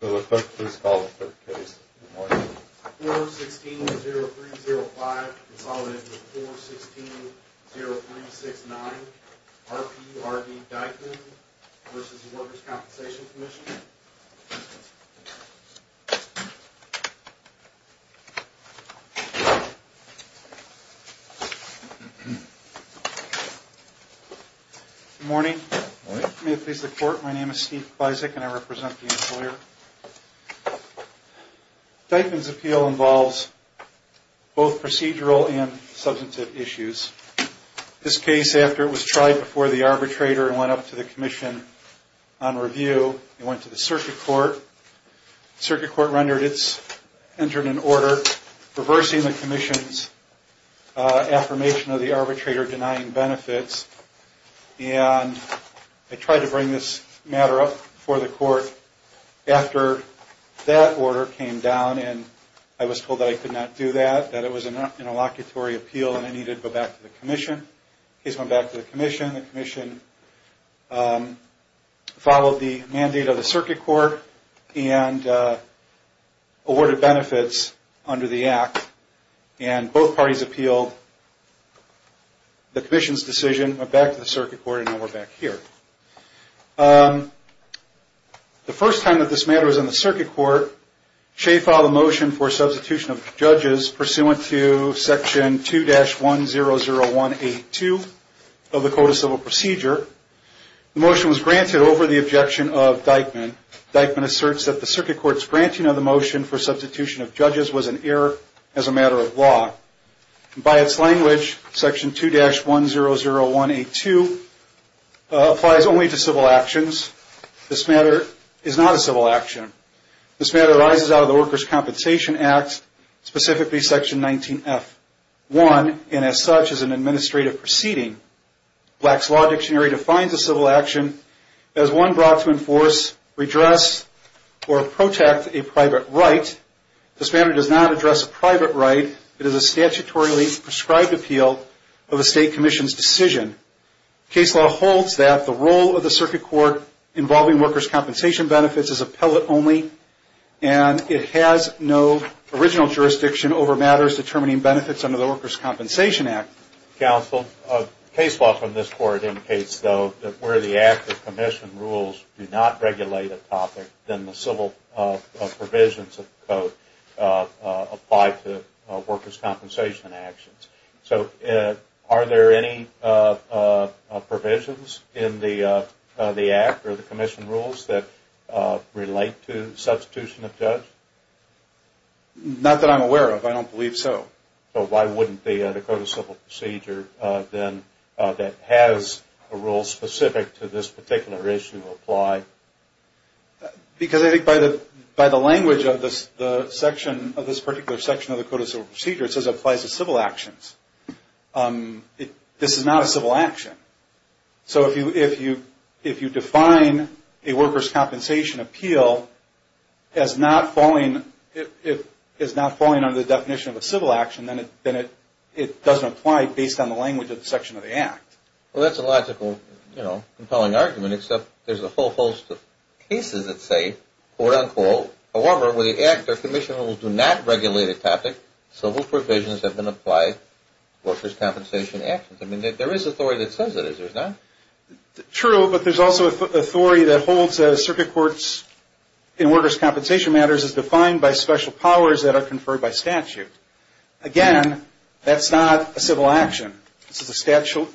Good morning. May it please the court, my name is Steve Blyzik and I represent the employer Dyckman's appeal involves both procedural and substantive issues. This case, after it was tried before the arbitrator and went up to the commission on review, it went to the circuit court. The circuit court entered an order reversing the commission's affirmation of the arbitrator denying benefits. And I tried to bring this matter up before the court. After that order came down and I was told that I could not do that, that it was an interlocutory appeal and I needed to go back to the commission. The case went back to the commission. The commission followed the mandate of the circuit court and awarded benefits under the act. And both parties appealed the commission's decision, went back to the circuit court, and now we're back here. The first time that this matter was in the circuit court, Shea filed a motion for substitution of judges pursuant to section 2-100182 of the Code of Civil Procedure. The motion was granted over the objection of Dyckman. Dyckman asserts that the circuit court's granting of the motion for substitution of judges was an error as a matter of law. By its language, section 2-100182 applies only to civil actions. This matter is not a civil action. This matter arises out of the Workers' Compensation Act, specifically section 19F1, and as such is an administrative proceeding. Black's Law Dictionary defines a civil action as one brought to enforce, redress, or protect a private right. This matter does not address a private right. It is a statutorily prescribed appeal of a state commission's decision. Case law holds that the role of the circuit court involving workers' compensation benefits is appellate only and it has no original jurisdiction over matters determining benefits under the Workers' Compensation Act. Counsel, case law from this court indicates, though, that where the act of commission rules do not regulate a topic, then the civil provisions of the code apply to workers' compensation actions. So, are there any provisions in the act or the commission rules that relate to substitution of judges? Not that I'm aware of. I don't believe so. So, why wouldn't the Code of Civil Procedure, then, that has a rule specific to this particular issue, apply? Because I think by the language of this particular section of the Code of Civil Procedure, it says it applies to civil actions. This is not a civil action. So, if you define a workers' compensation appeal as not falling under the definition of a civil action, then it doesn't apply based on the language of the section of the act. Well, that's a logical, you know, compelling argument, except there's a whole host of cases that say, quote, unquote, however, where the act or commission rules do not regulate a topic, civil provisions have been applied to workers' compensation actions. I mean, there is authority that says it is. There's not?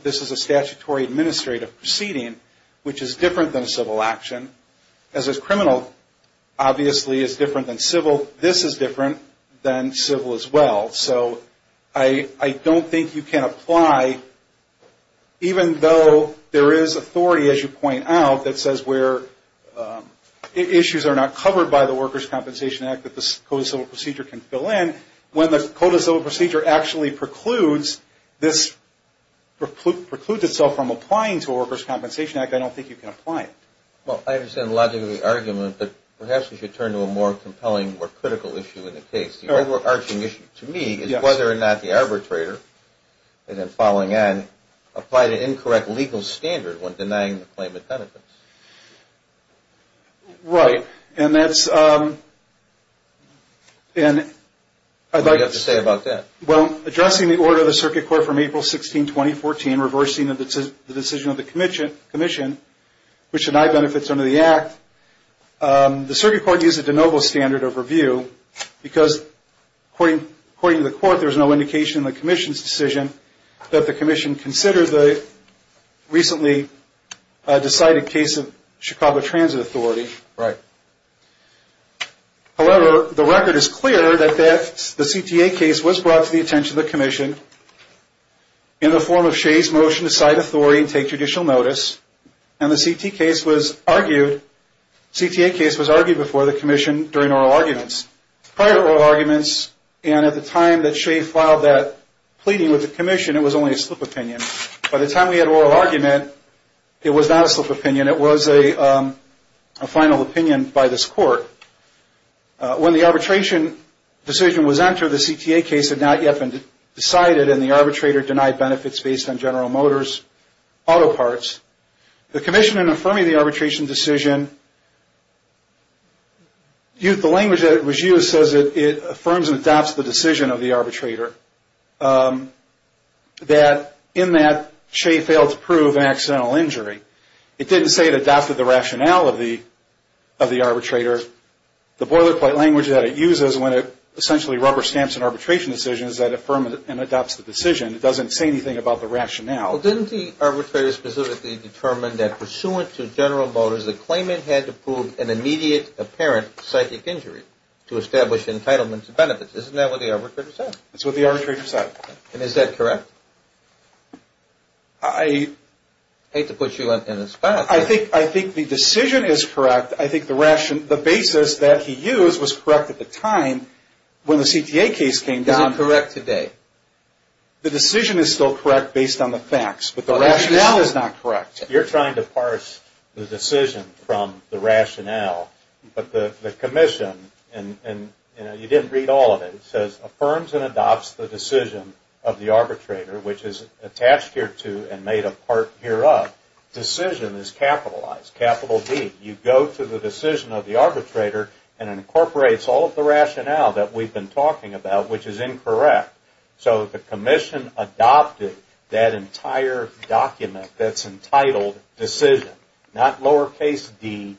This is a statutory administrative proceeding, which is different than a civil action. As a criminal, obviously, it's different than civil. This is different than civil as well. So, I don't think you can apply, even though there is authority, as you point out, that says where issues are not covered by the Workers' Compensation Act that the Code of Civil Procedure can fill in. When the Code of Civil Procedure actually precludes this, precludes itself from applying to a Workers' Compensation Act, I don't think you can apply it. Well, I understand the logic of the argument, but perhaps we should turn to a more compelling, more critical issue in the case. The overarching issue to me is whether or not the arbitrator, and then following on, applied an incorrect legal standard when denying the claimant benefits. Right. And that's... What do you have to say about that? Right. a final opinion by this Court. When the arbitration decision was entered, the CTA case had not yet been decided, and the arbitrator denied benefits based on General Motors' auto parts. The Commission, in affirming the arbitration decision, the language that was used says it affirms and adopts the decision of the arbitrator that, in that, Che failed to prove an accidental injury. It didn't say it adopted the rationale of the arbitrator. The boilerplate language that it uses when it essentially rubber stamps an arbitration decision is that it affirms and adopts the decision. It doesn't say anything about the rationale. Well, didn't the arbitrator specifically determine that, pursuant to General Motors, the claimant had to prove an immediate apparent psychic injury to establish entitlement to benefits? Isn't that what the arbitrator said? That's what the arbitrator said. And is that correct? I hate to put you in a spot. I think the decision is correct. I think the basis that he used was correct at the time when the CTA case came down. Is it correct today? The decision is still correct based on the facts, but the rationale is not correct. You're trying to parse the decision from the rationale, but the commission, and you didn't read all of it. It says affirms and adopts the decision of the arbitrator, which is attached here to and made a part hereof. Decision is capitalized, capital D. You go to the decision of the arbitrator and it incorporates all of the rationale that we've been talking about, which is incorrect. So the commission adopted that entire document that's entitled decision, not lowercase D,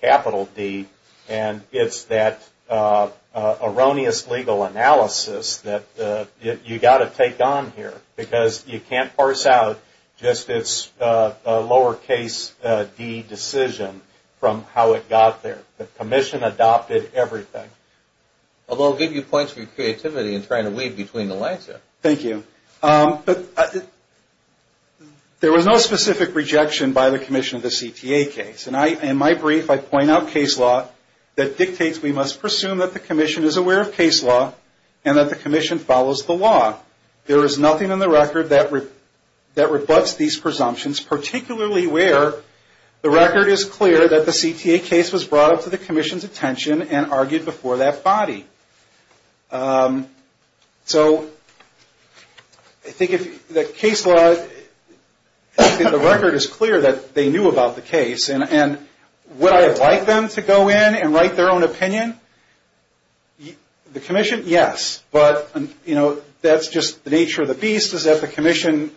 capital D. And it's that erroneous legal analysis that you've got to take on here because you can't parse out just this lowercase D decision from how it got there. The commission adopted everything. Although I'll give you points for your creativity in trying to weave between the lines here. Thank you. There was no specific rejection by the commission of the CTA case. In my brief, I point out case law that dictates we must presume that the commission is aware of case law and that the commission follows the law. There is nothing in the record that rebuts these presumptions, particularly where the record is clear that the CTA case was brought up to the commission's attention and argued before that body. So I think if the case law, I think the record is clear that they knew about the case. And would I have liked them to go in and write their own opinion? The commission, yes. But, you know, that's just the nature of the beast is that the commission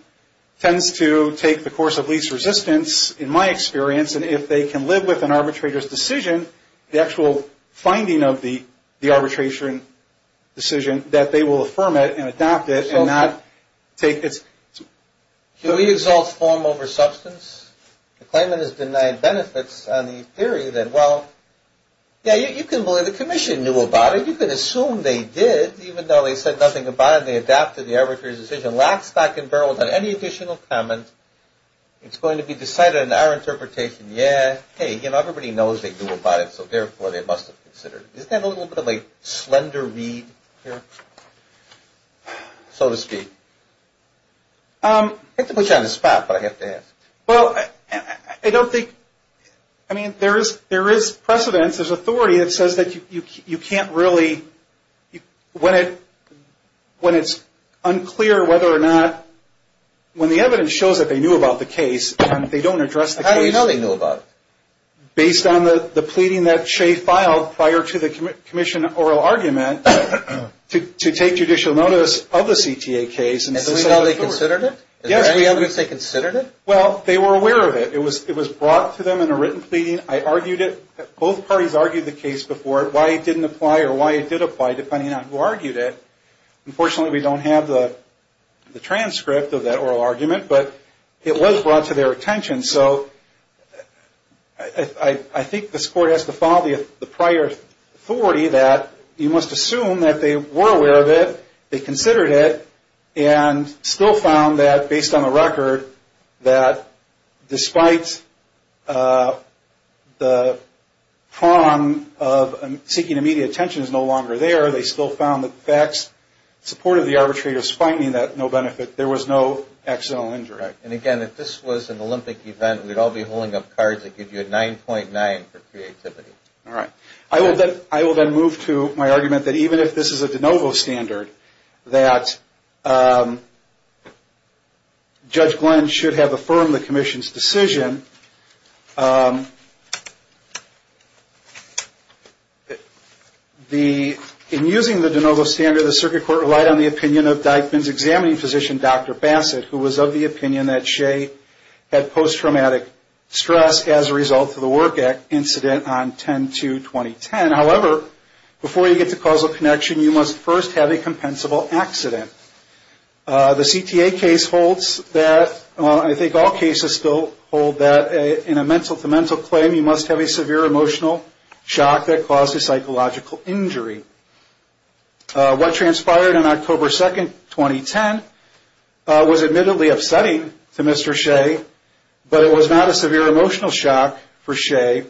tends to take the course of least resistance, in my experience. And if they can live with an arbitrator's decision, the actual finding of the arbitration decision, that they will affirm it and adopt it and not take its... So he exalts form over substance? The claimant has denied benefits on the theory that, well, yeah, you can believe the commission knew about it. You can assume they did, even though they said nothing about it and they adopted the arbitrator's decision. And last I can bear without any additional comment, it's going to be decided in our interpretation, yeah, hey, you know, everybody knows they knew about it, so therefore they must have considered it. Isn't that a little bit of a slender read here, so to speak? I have to put you on the spot, but I have to ask. Well, I don't think, I mean, there is precedence, there's authority that says that you can't really, when it's unclear whether or not, when the evidence shows that they knew about the case and they don't address the case. How do you know they knew about it? Based on the pleading that Shea filed prior to the commission oral argument to take judicial notice of the CTA case. And so now they considered it? Well, they were aware of it. It was brought to them in a written pleading. I argued it. Both parties argued the case before, why it didn't apply or why it did apply, depending on who argued it. Unfortunately, we don't have the transcript of that oral argument, but it was brought to their attention. So I think this court has to follow the prior authority that you must assume that they were aware of it, they considered it, and still found that, based on the record, that despite the prong of seeking immediate attention is no longer there, they still found that facts supported the arbitrator's finding that no benefit, there was no accidental injury. And again, if this was an Olympic event, we'd all be holding up cards that give you a 9.9 for creativity. All right. I will then move to my argument that even if this is a de novo standard, that Judge Glenn should have affirmed the commission's decision. In using the de novo standard, the circuit court relied on the opinion of Dyckman's examining physician, Dr. Bassett, who was of the opinion that Shea had post-traumatic stress as a result of the work incident on 10-2-2010. However, before you get to causal connection, you must first have a compensable accident. The CTA case holds that, I think all cases still hold that, in a mental-to-mental claim, you must have a severe emotional shock that caused a psychological injury. What transpired on October 2nd, 2010, was admittedly upsetting to Mr. Shea, but it was not a severe emotional shock for Shea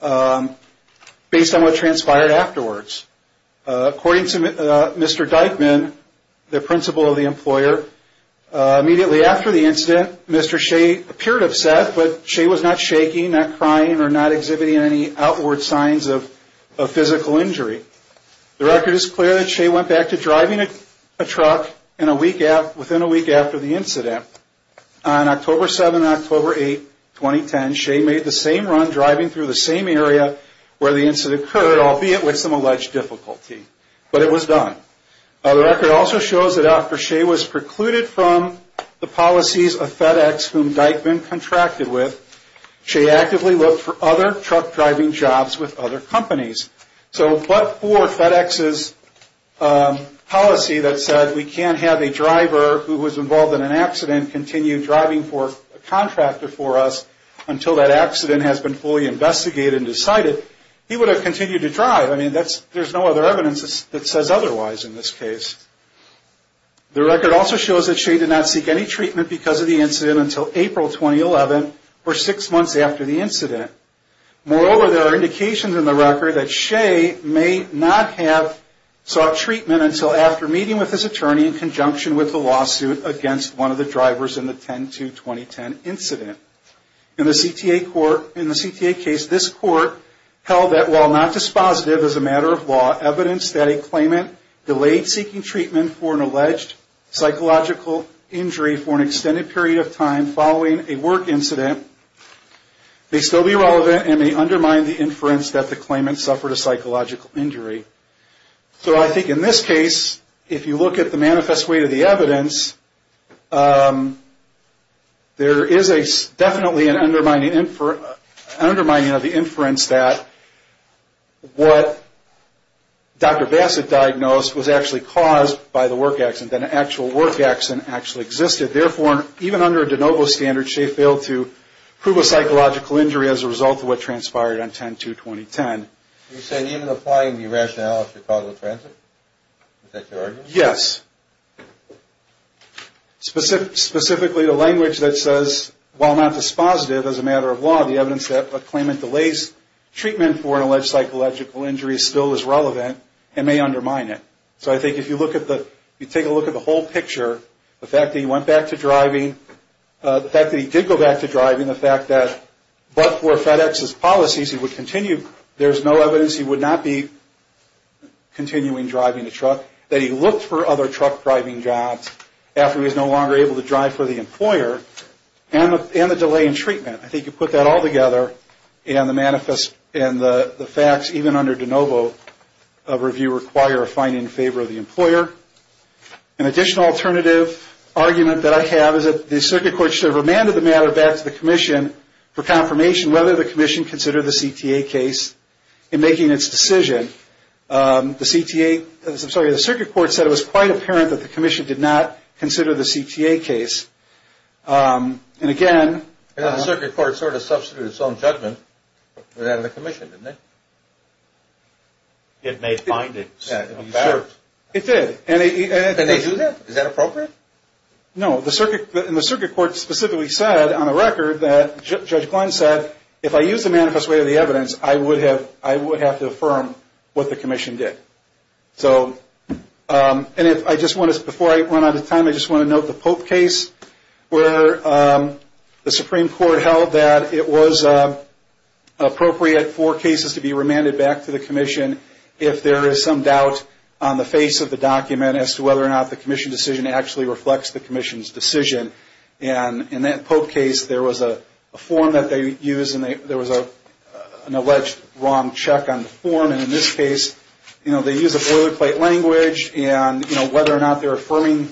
based on what transpired afterwards. According to Mr. Dyckman, the principal of the employer, immediately after the incident, Mr. Shea appeared upset, but Shea was not shaking, not crying, or not exhibiting any outward signs of physical injury. The record is clear that Shea went back to driving a truck within a week after the incident. On October 7th and October 8th, 2010, Shea made the same run, driving through the same area where the incident occurred, albeit with some alleged difficulty, but it was done. The record also shows that after Shea was precluded from the policies of FedEx, whom Dyckman contracted with, Shea actively looked for other truck driving jobs with other companies. So, but for FedEx's policy that said we can't have a driver who was involved in an accident continue driving for a contractor for us until that accident has been fully investigated and decided, he would have continued to drive. I mean, there's no other evidence that says otherwise in this case. The record also shows that Shea did not seek any treatment because of the incident until April 2011, or six months after the incident. Moreover, there are indications in the record that Shea may not have sought treatment until after meeting with his attorney in conjunction with the lawsuit against one of the drivers in the 10-2-2010 incident. In the CTA court, in the CTA case, this court held that while not dispositive as a matter of law, evidence that a claimant delayed seeking treatment for an alleged psychological injury for an extended period of time following a work incident may still be relevant and may undermine the inference that the claimant suffered a psychological injury. So I think in this case, if you look at the manifest weight of the evidence, there is definitely an undermining of the inference that what Dr. Bassett diagnosed was actually caused by the work accident, that an actual work accident actually existed. Therefore, even under a de novo standard, Shea failed to prove a psychological injury as a result of what transpired on 10-2-2010. You said even applying the rationale of Chicago Transit? Is that your argument? Yes. Specifically the language that says, while not dispositive as a matter of law, the evidence that a claimant delays treatment for an alleged psychological injury still is relevant and may undermine it. So I think if you take a look at the whole picture, the fact that he went back to driving, the fact that he did go back to driving, the fact that, but for FedEx's policies, there is no evidence he would not be continuing driving a truck, that he looked for other truck driving jobs after he was no longer able to drive for the employer, and the delay in treatment. I think you put that all together and the manifest and the facts even under de novo of review require a finding in favor of the employer. An additional alternative argument that I have is that the circuit court should have remanded the matter back to the commission for confirmation whether the commission considered the CTA case in making its decision. The circuit court said it was quite apparent that the commission did not consider the CTA case. And again... I thought the circuit court sort of substituted its own judgment. It was out of the commission, didn't it? It made findings. It did. Did they do that? Is that appropriate? No. The circuit court specifically said on a record that, Judge Klein said, if I use the manifest way of the evidence, I would have to affirm what the commission did. So, and if I just want to, before I run out of time, I just want to note the Pope case, where the Supreme Court held that it was appropriate for cases to be remanded back to the commission if there is some doubt on the face of the document as to whether or not the commission's decision actually reflects the commission's decision. And in that Pope case, there was a form that they used, and there was an alleged wrong check on the form. And in this case, you know, they use a boilerplate language. And, you know, whether or not they're affirming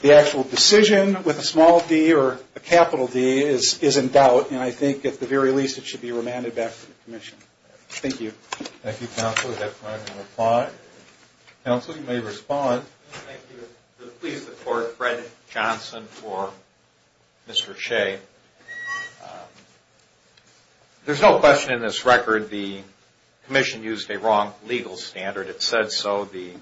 the actual decision with a small d or a capital D is in doubt. And I think, at the very least, it should be remanded back to the commission. Thank you. Thank you, Counsel. Is that time to reply? Counsel, you may respond. Thank you. To please the court, Fred Johnson for Mr. Shea. There's no question in this record the commission used a wrong legal standard. It said so. The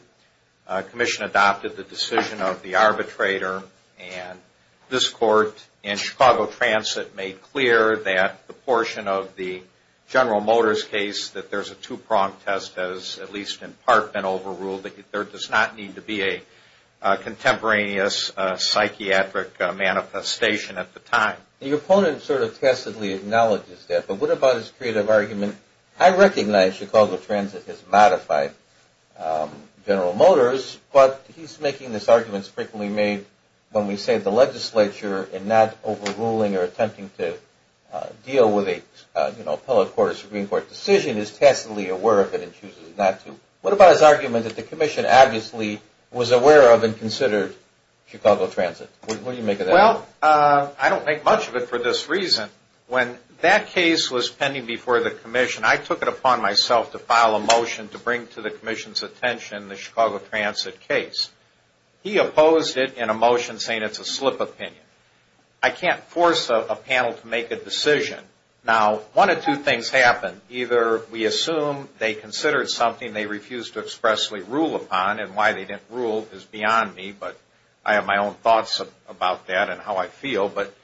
commission adopted the decision of the arbitrator. And this court in Chicago Transit made clear that the portion of the General Motors case that there's a two-pronged test, as at least in part been overruled, that there does not need to be a contemporaneous psychiatric manifestation at the time. Your opponent sort of testedly acknowledges that. But what about his creative argument? I recognize Chicago Transit has modified General Motors, but he's making these arguments frequently made when we say the legislature in not overruling or attempting to deal with a, you know, appellate court or Supreme Court decision is testedly aware of it and chooses not to. What about his argument that the commission obviously was aware of and considered Chicago Transit? What do you make of that? Well, I don't make much of it for this reason. When that case was pending before the commission, I took it upon myself to file a motion to bring to the commission's attention the Chicago Transit case. He opposed it in a motion saying it's a slip opinion. I can't force a panel to make a decision. Now, one of two things happened. Either we assume they considered something they refused to expressly rule upon, and why they didn't rule is beyond me, but I have my own thoughts about that and how I feel. But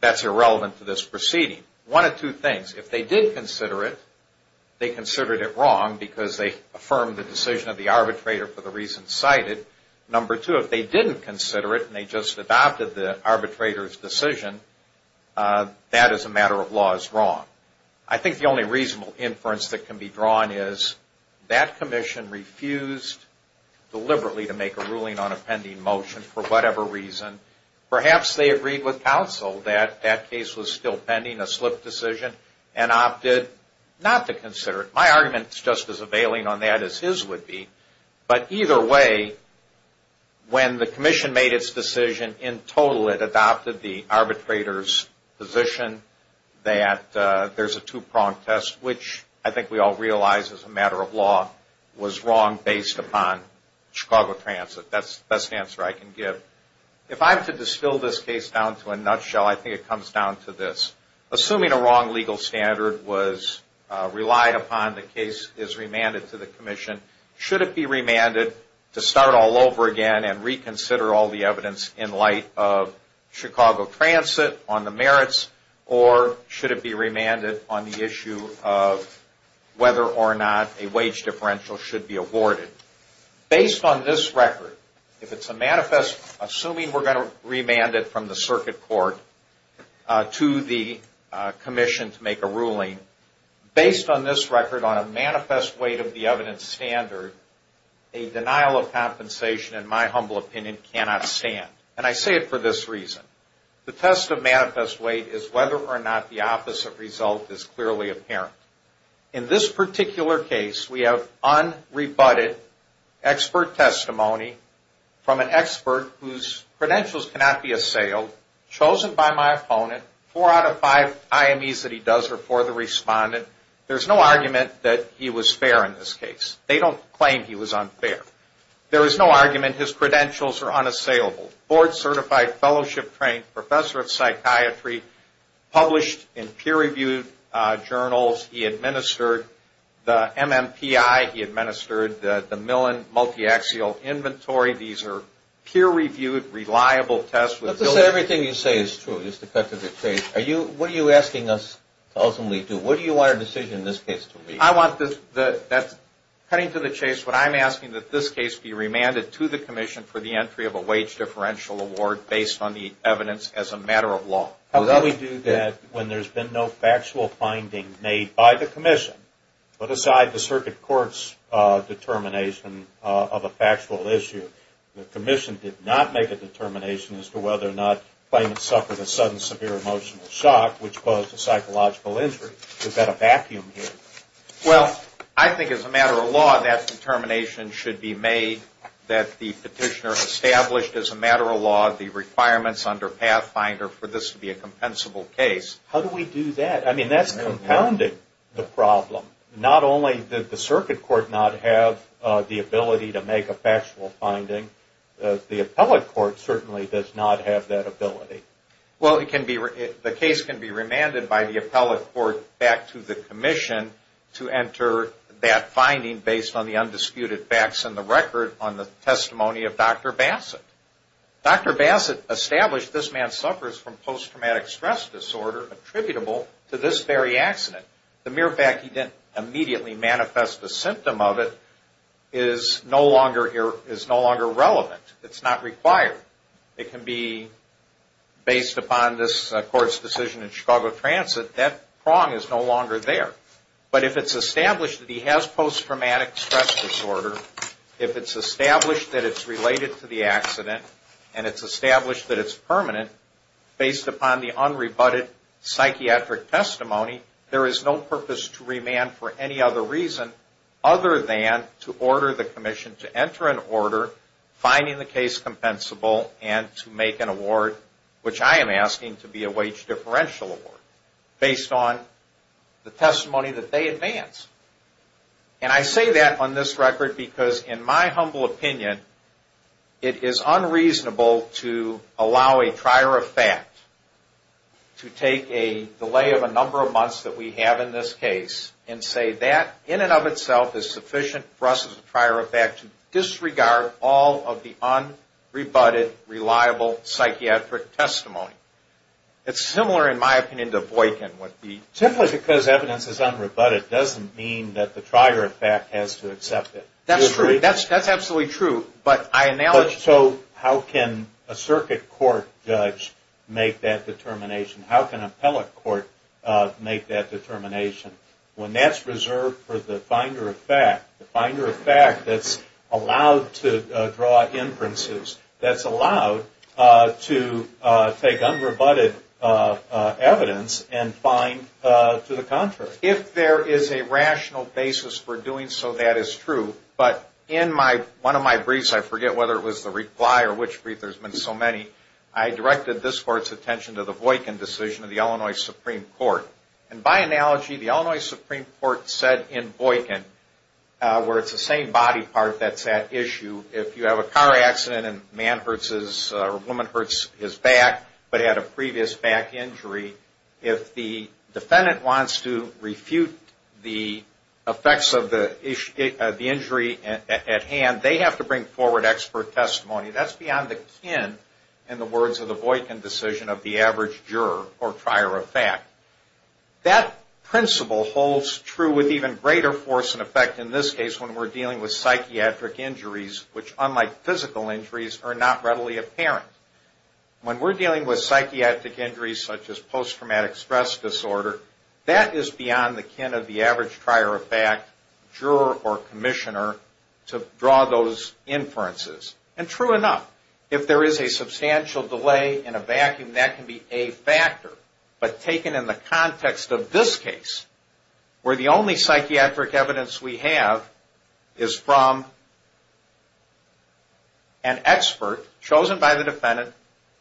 that's irrelevant to this proceeding. One of two things. If they did consider it, they considered it wrong because they affirmed the decision of the arbitrator for the reasons cited. Number two, if they didn't consider it and they just adopted the arbitrator's decision, that as a matter of law is wrong. I think the only reasonable inference that can be drawn is that commission refused deliberately to make a ruling on a pending motion for whatever reason. Perhaps they agreed with counsel that that case was still pending, a slip decision, and opted not to consider it. My argument is just as availing on that as his would be. But either way, when the commission made its decision, in total it adopted the arbitrator's position that there's a two-prong test, which I think we all realize as a matter of law was wrong based upon Chicago Transit. That's the best answer I can give. If I have to distill this case down to a nutshell, I think it comes down to this. Assuming a wrong legal standard was relied upon, the case is remanded to the commission. Should it be remanded to start all over again and reconsider all the evidence in light of Chicago Transit on the merits, or should it be remanded on the issue of whether or not a wage differential should be awarded? Based on this record, if it's a manifest, assuming we're going to remand it from the circuit court to the commission to make a ruling, based on this record on a manifest weight of the evidence standard, a denial of compensation, in my humble opinion, cannot stand. And I say it for this reason. The test of manifest weight is whether or not the opposite result is clearly apparent. In this particular case, we have unrebutted expert testimony from an expert whose credentials cannot be assailed, chosen by my opponent. Four out of five IMEs that he does are for the respondent. There's no argument that he was fair in this case. They don't claim he was unfair. There is no argument his credentials are unassailable. Board-certified, fellowship-trained, professor of psychiatry, published in peer-reviewed journals. He administered the MMPI. He administered the Millon Multiaxial Inventory. These are peer-reviewed, reliable tests. Let's say everything you say is true, just to cut to the chase. What are you asking us to ultimately do? What do you want our decision in this case to be? Cutting to the chase, what I'm asking is that this case be remanded to the commission for the entry of a wage differential award based on the evidence as a matter of law. How can we do that when there's been no factual finding made by the commission? Put aside the circuit court's determination of a factual issue, the commission did not make a determination as to whether or not the claimant suffered a sudden severe emotional shock which caused a psychological injury. Is that a vacuum here? Well, I think as a matter of law, that determination should be made that the petitioner established as a matter of law the requirements under Pathfinder for this to be a compensable case. How do we do that? I mean, that's compounded the problem. Not only did the circuit court not have the ability to make a factual finding, the appellate court certainly does not have that ability. Well, the case can be remanded by the appellate court back to the commission to enter that finding based on the undisputed facts in the record on the testimony of Dr. Bassett. Dr. Bassett established this man suffers from post-traumatic stress disorder attributable to this very accident. The mere fact he didn't immediately manifest a symptom of it is no longer relevant. It's not required. It can be based upon this court's decision in Chicago Transit. That prong is no longer there. But if it's established that he has post-traumatic stress disorder, if it's established that it's related to the accident, and it's established that it's permanent based upon the unrebutted psychiatric testimony, there is no purpose to remand for any other reason other than to order the commission to enter an order finding the case compensable and to make an award, which I am asking to be a wage differential award, based on the testimony that they advance. And I say that on this record because, in my humble opinion, it is unreasonable to allow a trier of fact to take a delay of a number of months that we have in this case and say that in and of itself is sufficient for us as a trier of fact to disregard all of the unrebutted, reliable psychiatric testimony. It's similar, in my opinion, to Boykin. Simply because evidence is unrebutted doesn't mean that the trier of fact has to accept it. That's true. That's absolutely true. So how can a circuit court judge make that determination? How can an appellate court make that determination? When that's reserved for the finder of fact, the finder of fact that's allowed to draw inferences, that's allowed to take unrebutted evidence and find to the contrary. If there is a rational basis for doing so, that is true. But in one of my briefs, I forget whether it was the reply or which brief, there's been so many, I directed this court's attention to the Boykin decision of the Illinois Supreme Court. And by analogy, the Illinois Supreme Court said in Boykin, where it's the same body part that's at issue, if you have a car accident and a woman hurts his back but had a previous back injury, if the defendant wants to refute the effects of the injury at hand, they have to bring forward expert testimony. That's beyond the kin, in the words of the Boykin decision, of the average juror or trier of fact. That principle holds true with even greater force and effect in this case when we're dealing with psychiatric injuries, which, unlike physical injuries, are not readily apparent. When we're dealing with psychiatric injuries such as post-traumatic stress disorder, that is beyond the kin of the average trier of fact, juror or commissioner, to draw those inferences. And true enough, if there is a substantial delay in a vacuum, that can be a factor. But taken in the context of this case, where the only psychiatric evidence we have is from an expert, chosen by the defendant,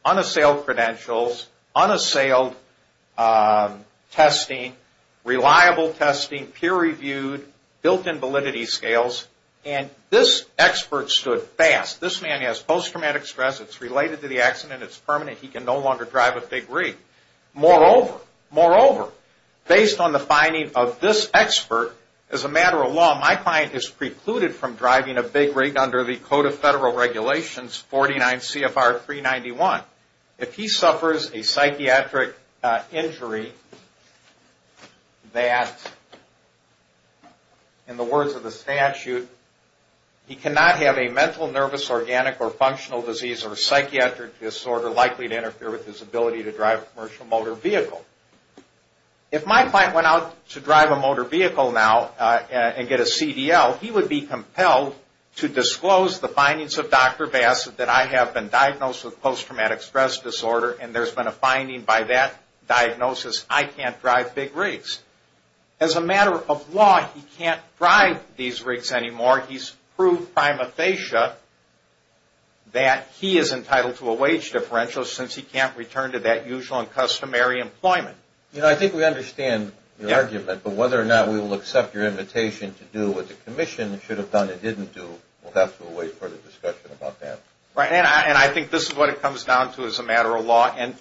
unassailed credentials, unassailed testing, reliable testing, peer-reviewed, built-in validity scales, and this expert stood fast, this man has post-traumatic stress, it's related to the accident, it's permanent, he can no longer drive a big rig. Moreover, based on the finding of this expert, as a matter of law, my client is precluded from driving a big rig under the Code of Federal Regulations 49 CFR 391. If he suffers a psychiatric injury that, in the words of the statute, he cannot have a mental, nervous, organic, or functional disease or psychiatric disorder likely to interfere with his ability to drive a commercial motor vehicle. If my client went out to drive a motor vehicle now and get a CDL, he would be compelled to disclose the findings of Dr. Bassett that I have been diagnosed with post-traumatic stress disorder and there's been a finding by that diagnosis, I can't drive big rigs. As a matter of law, he can't drive these rigs anymore. He's proved prima facie that he is entitled to a wage differential since he can't return to that usual and customary employment. You know, I think we understand your argument, but whether or not we will accept your invitation to do what the Commission should have done and didn't do, we'll have to wait for the discussion about that. Right, and I think this is what it comes down to as a matter of law. And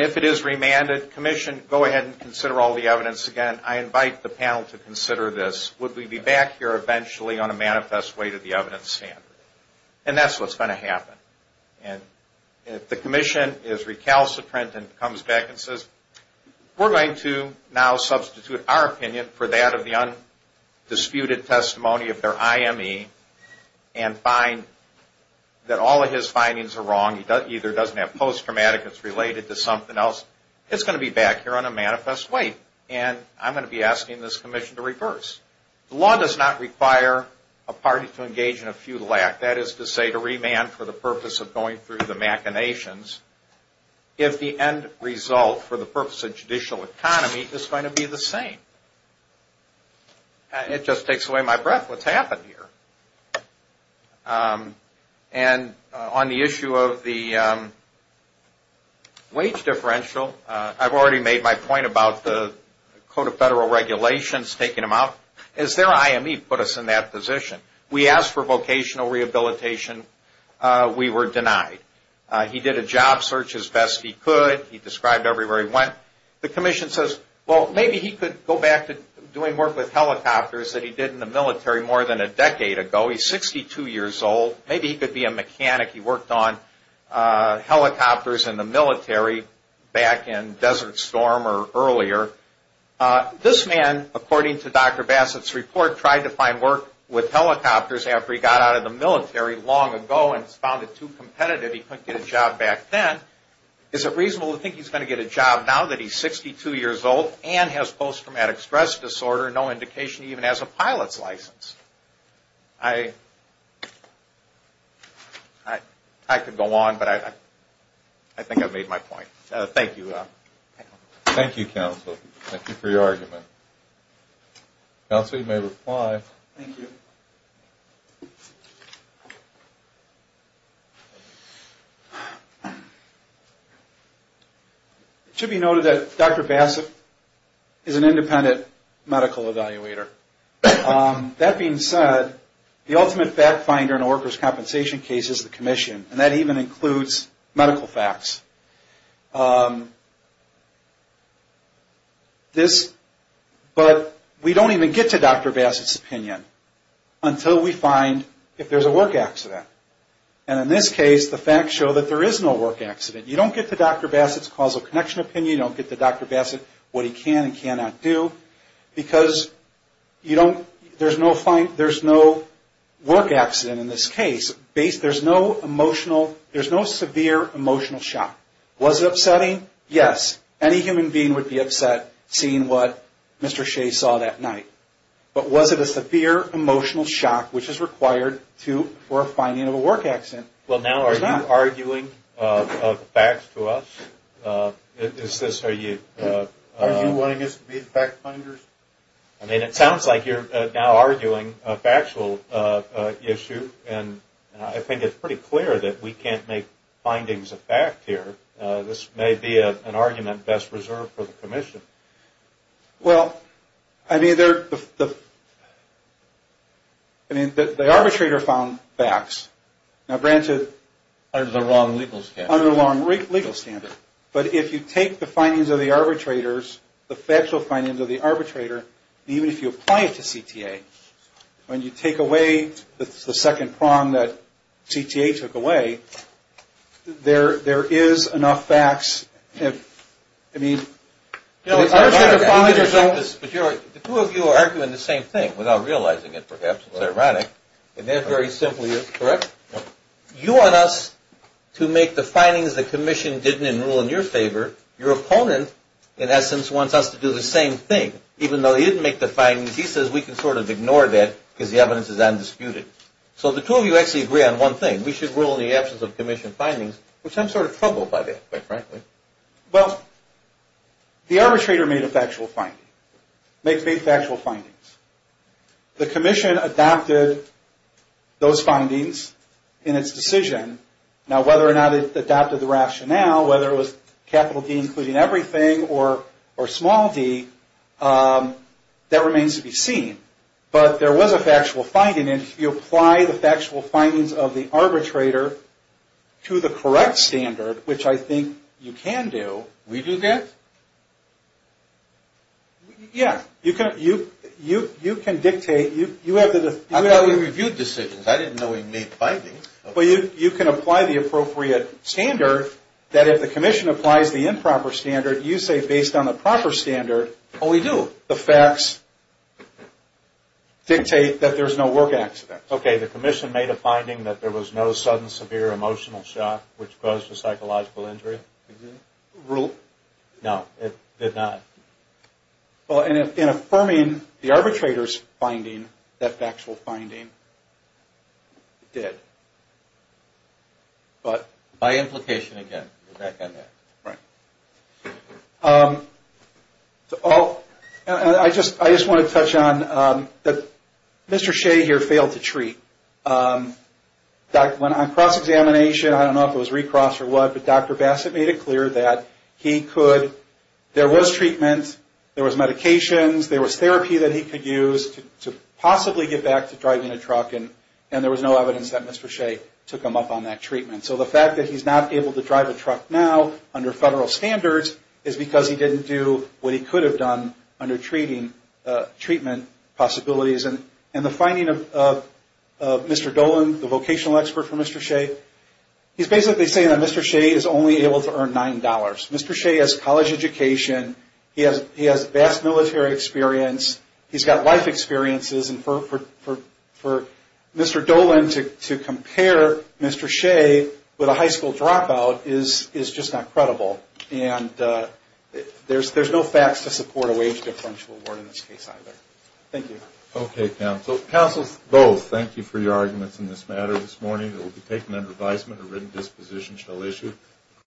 if it is remanded, Commission, go ahead and consider all the evidence again. I invite the panel to consider this. Would we be back here eventually on a manifest way to the evidence standard? And that's what's going to happen. And if the Commission is recalcitrant and comes back and says, we're going to now substitute our opinion for that of the undisputed testimony of their IME and find that all of his findings are wrong, he either doesn't have post-traumatic, it's related to something else, it's going to be back here on a manifest way. And I'm going to be asking this Commission to reverse. The law does not require a party to engage in a feudal act, that is to say, to remand for the purpose of going through the machinations, if the end result for the purpose of judicial economy is going to be the same. It just takes away my breath. What's happened here? And on the issue of the wage differential, I've already made my point about the Code of Federal Regulations taking them out. Is their IME put us in that position? We asked for vocational rehabilitation. We were denied. He did a job search as best he could. He described everywhere he went. The Commission says, well, maybe he could go back to doing work with helicopters that he did in the military more than a decade ago. He's 62 years old. Maybe he could be a mechanic. He worked on helicopters in the military back in Desert Storm or earlier. This man, according to Dr. Bassett's report, tried to find work with helicopters after he got out of the military long ago and found it too competitive. He couldn't get a job back then. Is it reasonable to think he's going to get a job now that he's 62 years old and has post-traumatic stress disorder, no indication he even has a pilot's license? I could go on, but I think I've made my point. Thank you. Thank you, counsel. Thank you for your argument. Counsel, you may reply. Thank you. It should be noted that Dr. Bassett is an independent medical evaluator. That being said, the ultimate fact finder in a worker's compensation case is the commission, and that even includes medical facts. But we don't even get to Dr. Bassett's opinion until we find if there's a work accident. And in this case, the facts show that there is no work accident. You don't get to Dr. Bassett's causal connection opinion. You don't get to Dr. Bassett, what he can and cannot do. You don't get to Dr. Bassett because there's no work accident in this case. There's no severe emotional shock. Was it upsetting? Yes. Any human being would be upset seeing what Mr. Shea saw that night. But was it a severe emotional shock, which is required for a finding of a work accident? Well, now are you arguing facts to us? Are you wanting us to be fact finders? I mean, it sounds like you're now arguing a factual issue, and I think it's pretty clear that we can't make findings of fact here. This may be an argument best reserved for the commission. Well, I mean, the arbitrator found facts. Now, granted, under the wrong legal standard. But if you take the findings of the arbitrators, the factual findings of the arbitrator, and even if you apply it to CTA, when you take away the second prong that CTA took away, there is enough facts. I mean, the two of you are arguing the same thing, without realizing it, perhaps. It's ironic. And that very simply is correct. You want us to make the findings the commission didn't enroll in your favor. Your opponent, in essence, wants us to do the same thing. Even though he didn't make the findings, he says we can sort of ignore that because the evidence is undisputed. So the two of you actually agree on one thing. We should rule in the absence of commission findings, which I'm sort of troubled by that, quite frankly. Well, the arbitrator made a factual finding. They made factual findings. The commission adopted those findings in its decision. Now, whether or not it adopted the rationale, whether it was capital D including everything, or small d, that remains to be seen. But there was a factual finding, and if you apply the factual findings of the arbitrator to the correct standard, which I think you can do. We do that? Yeah. You can dictate. I thought we reviewed decisions. I didn't know we made findings. Well, you can apply the appropriate standard that if the commission applies the improper standard, you say based on the proper standard. Oh, we do. The facts dictate that there's no work accident. Okay. The commission made a finding that there was no sudden severe emotional shock, which caused a psychological injury. No, it did not. Well, in affirming the arbitrator's finding, that factual finding, it did. But by implication, again, we're back on that. Right. I just want to touch on that Mr. Shea here failed to treat. When on cross-examination, I don't know if it was recross or what, but Dr. Bassett made it clear that he could, there was treatment, there was medications, there was therapy that he could use to possibly get back to driving a truck, and there was no evidence that Mr. Shea took him up on that treatment. So the fact that he's not able to drive a truck now under federal standards is because he didn't do what he could have done under treatment possibilities. And the finding of Mr. Dolan, the vocational expert for Mr. Shea, he's basically saying that Mr. Shea is only able to earn $9. Mr. Shea has college education. He has vast military experience. He's got life experiences. And for Mr. Dolan to compare Mr. Shea with a high school dropout is just not credible. And there's no facts to support a wage differential award in this case either. Thank you. Okay, counsel. Counsel, both, thank you for your arguments in this matter this morning. It will be taken under advisement. A written disposition shall issue.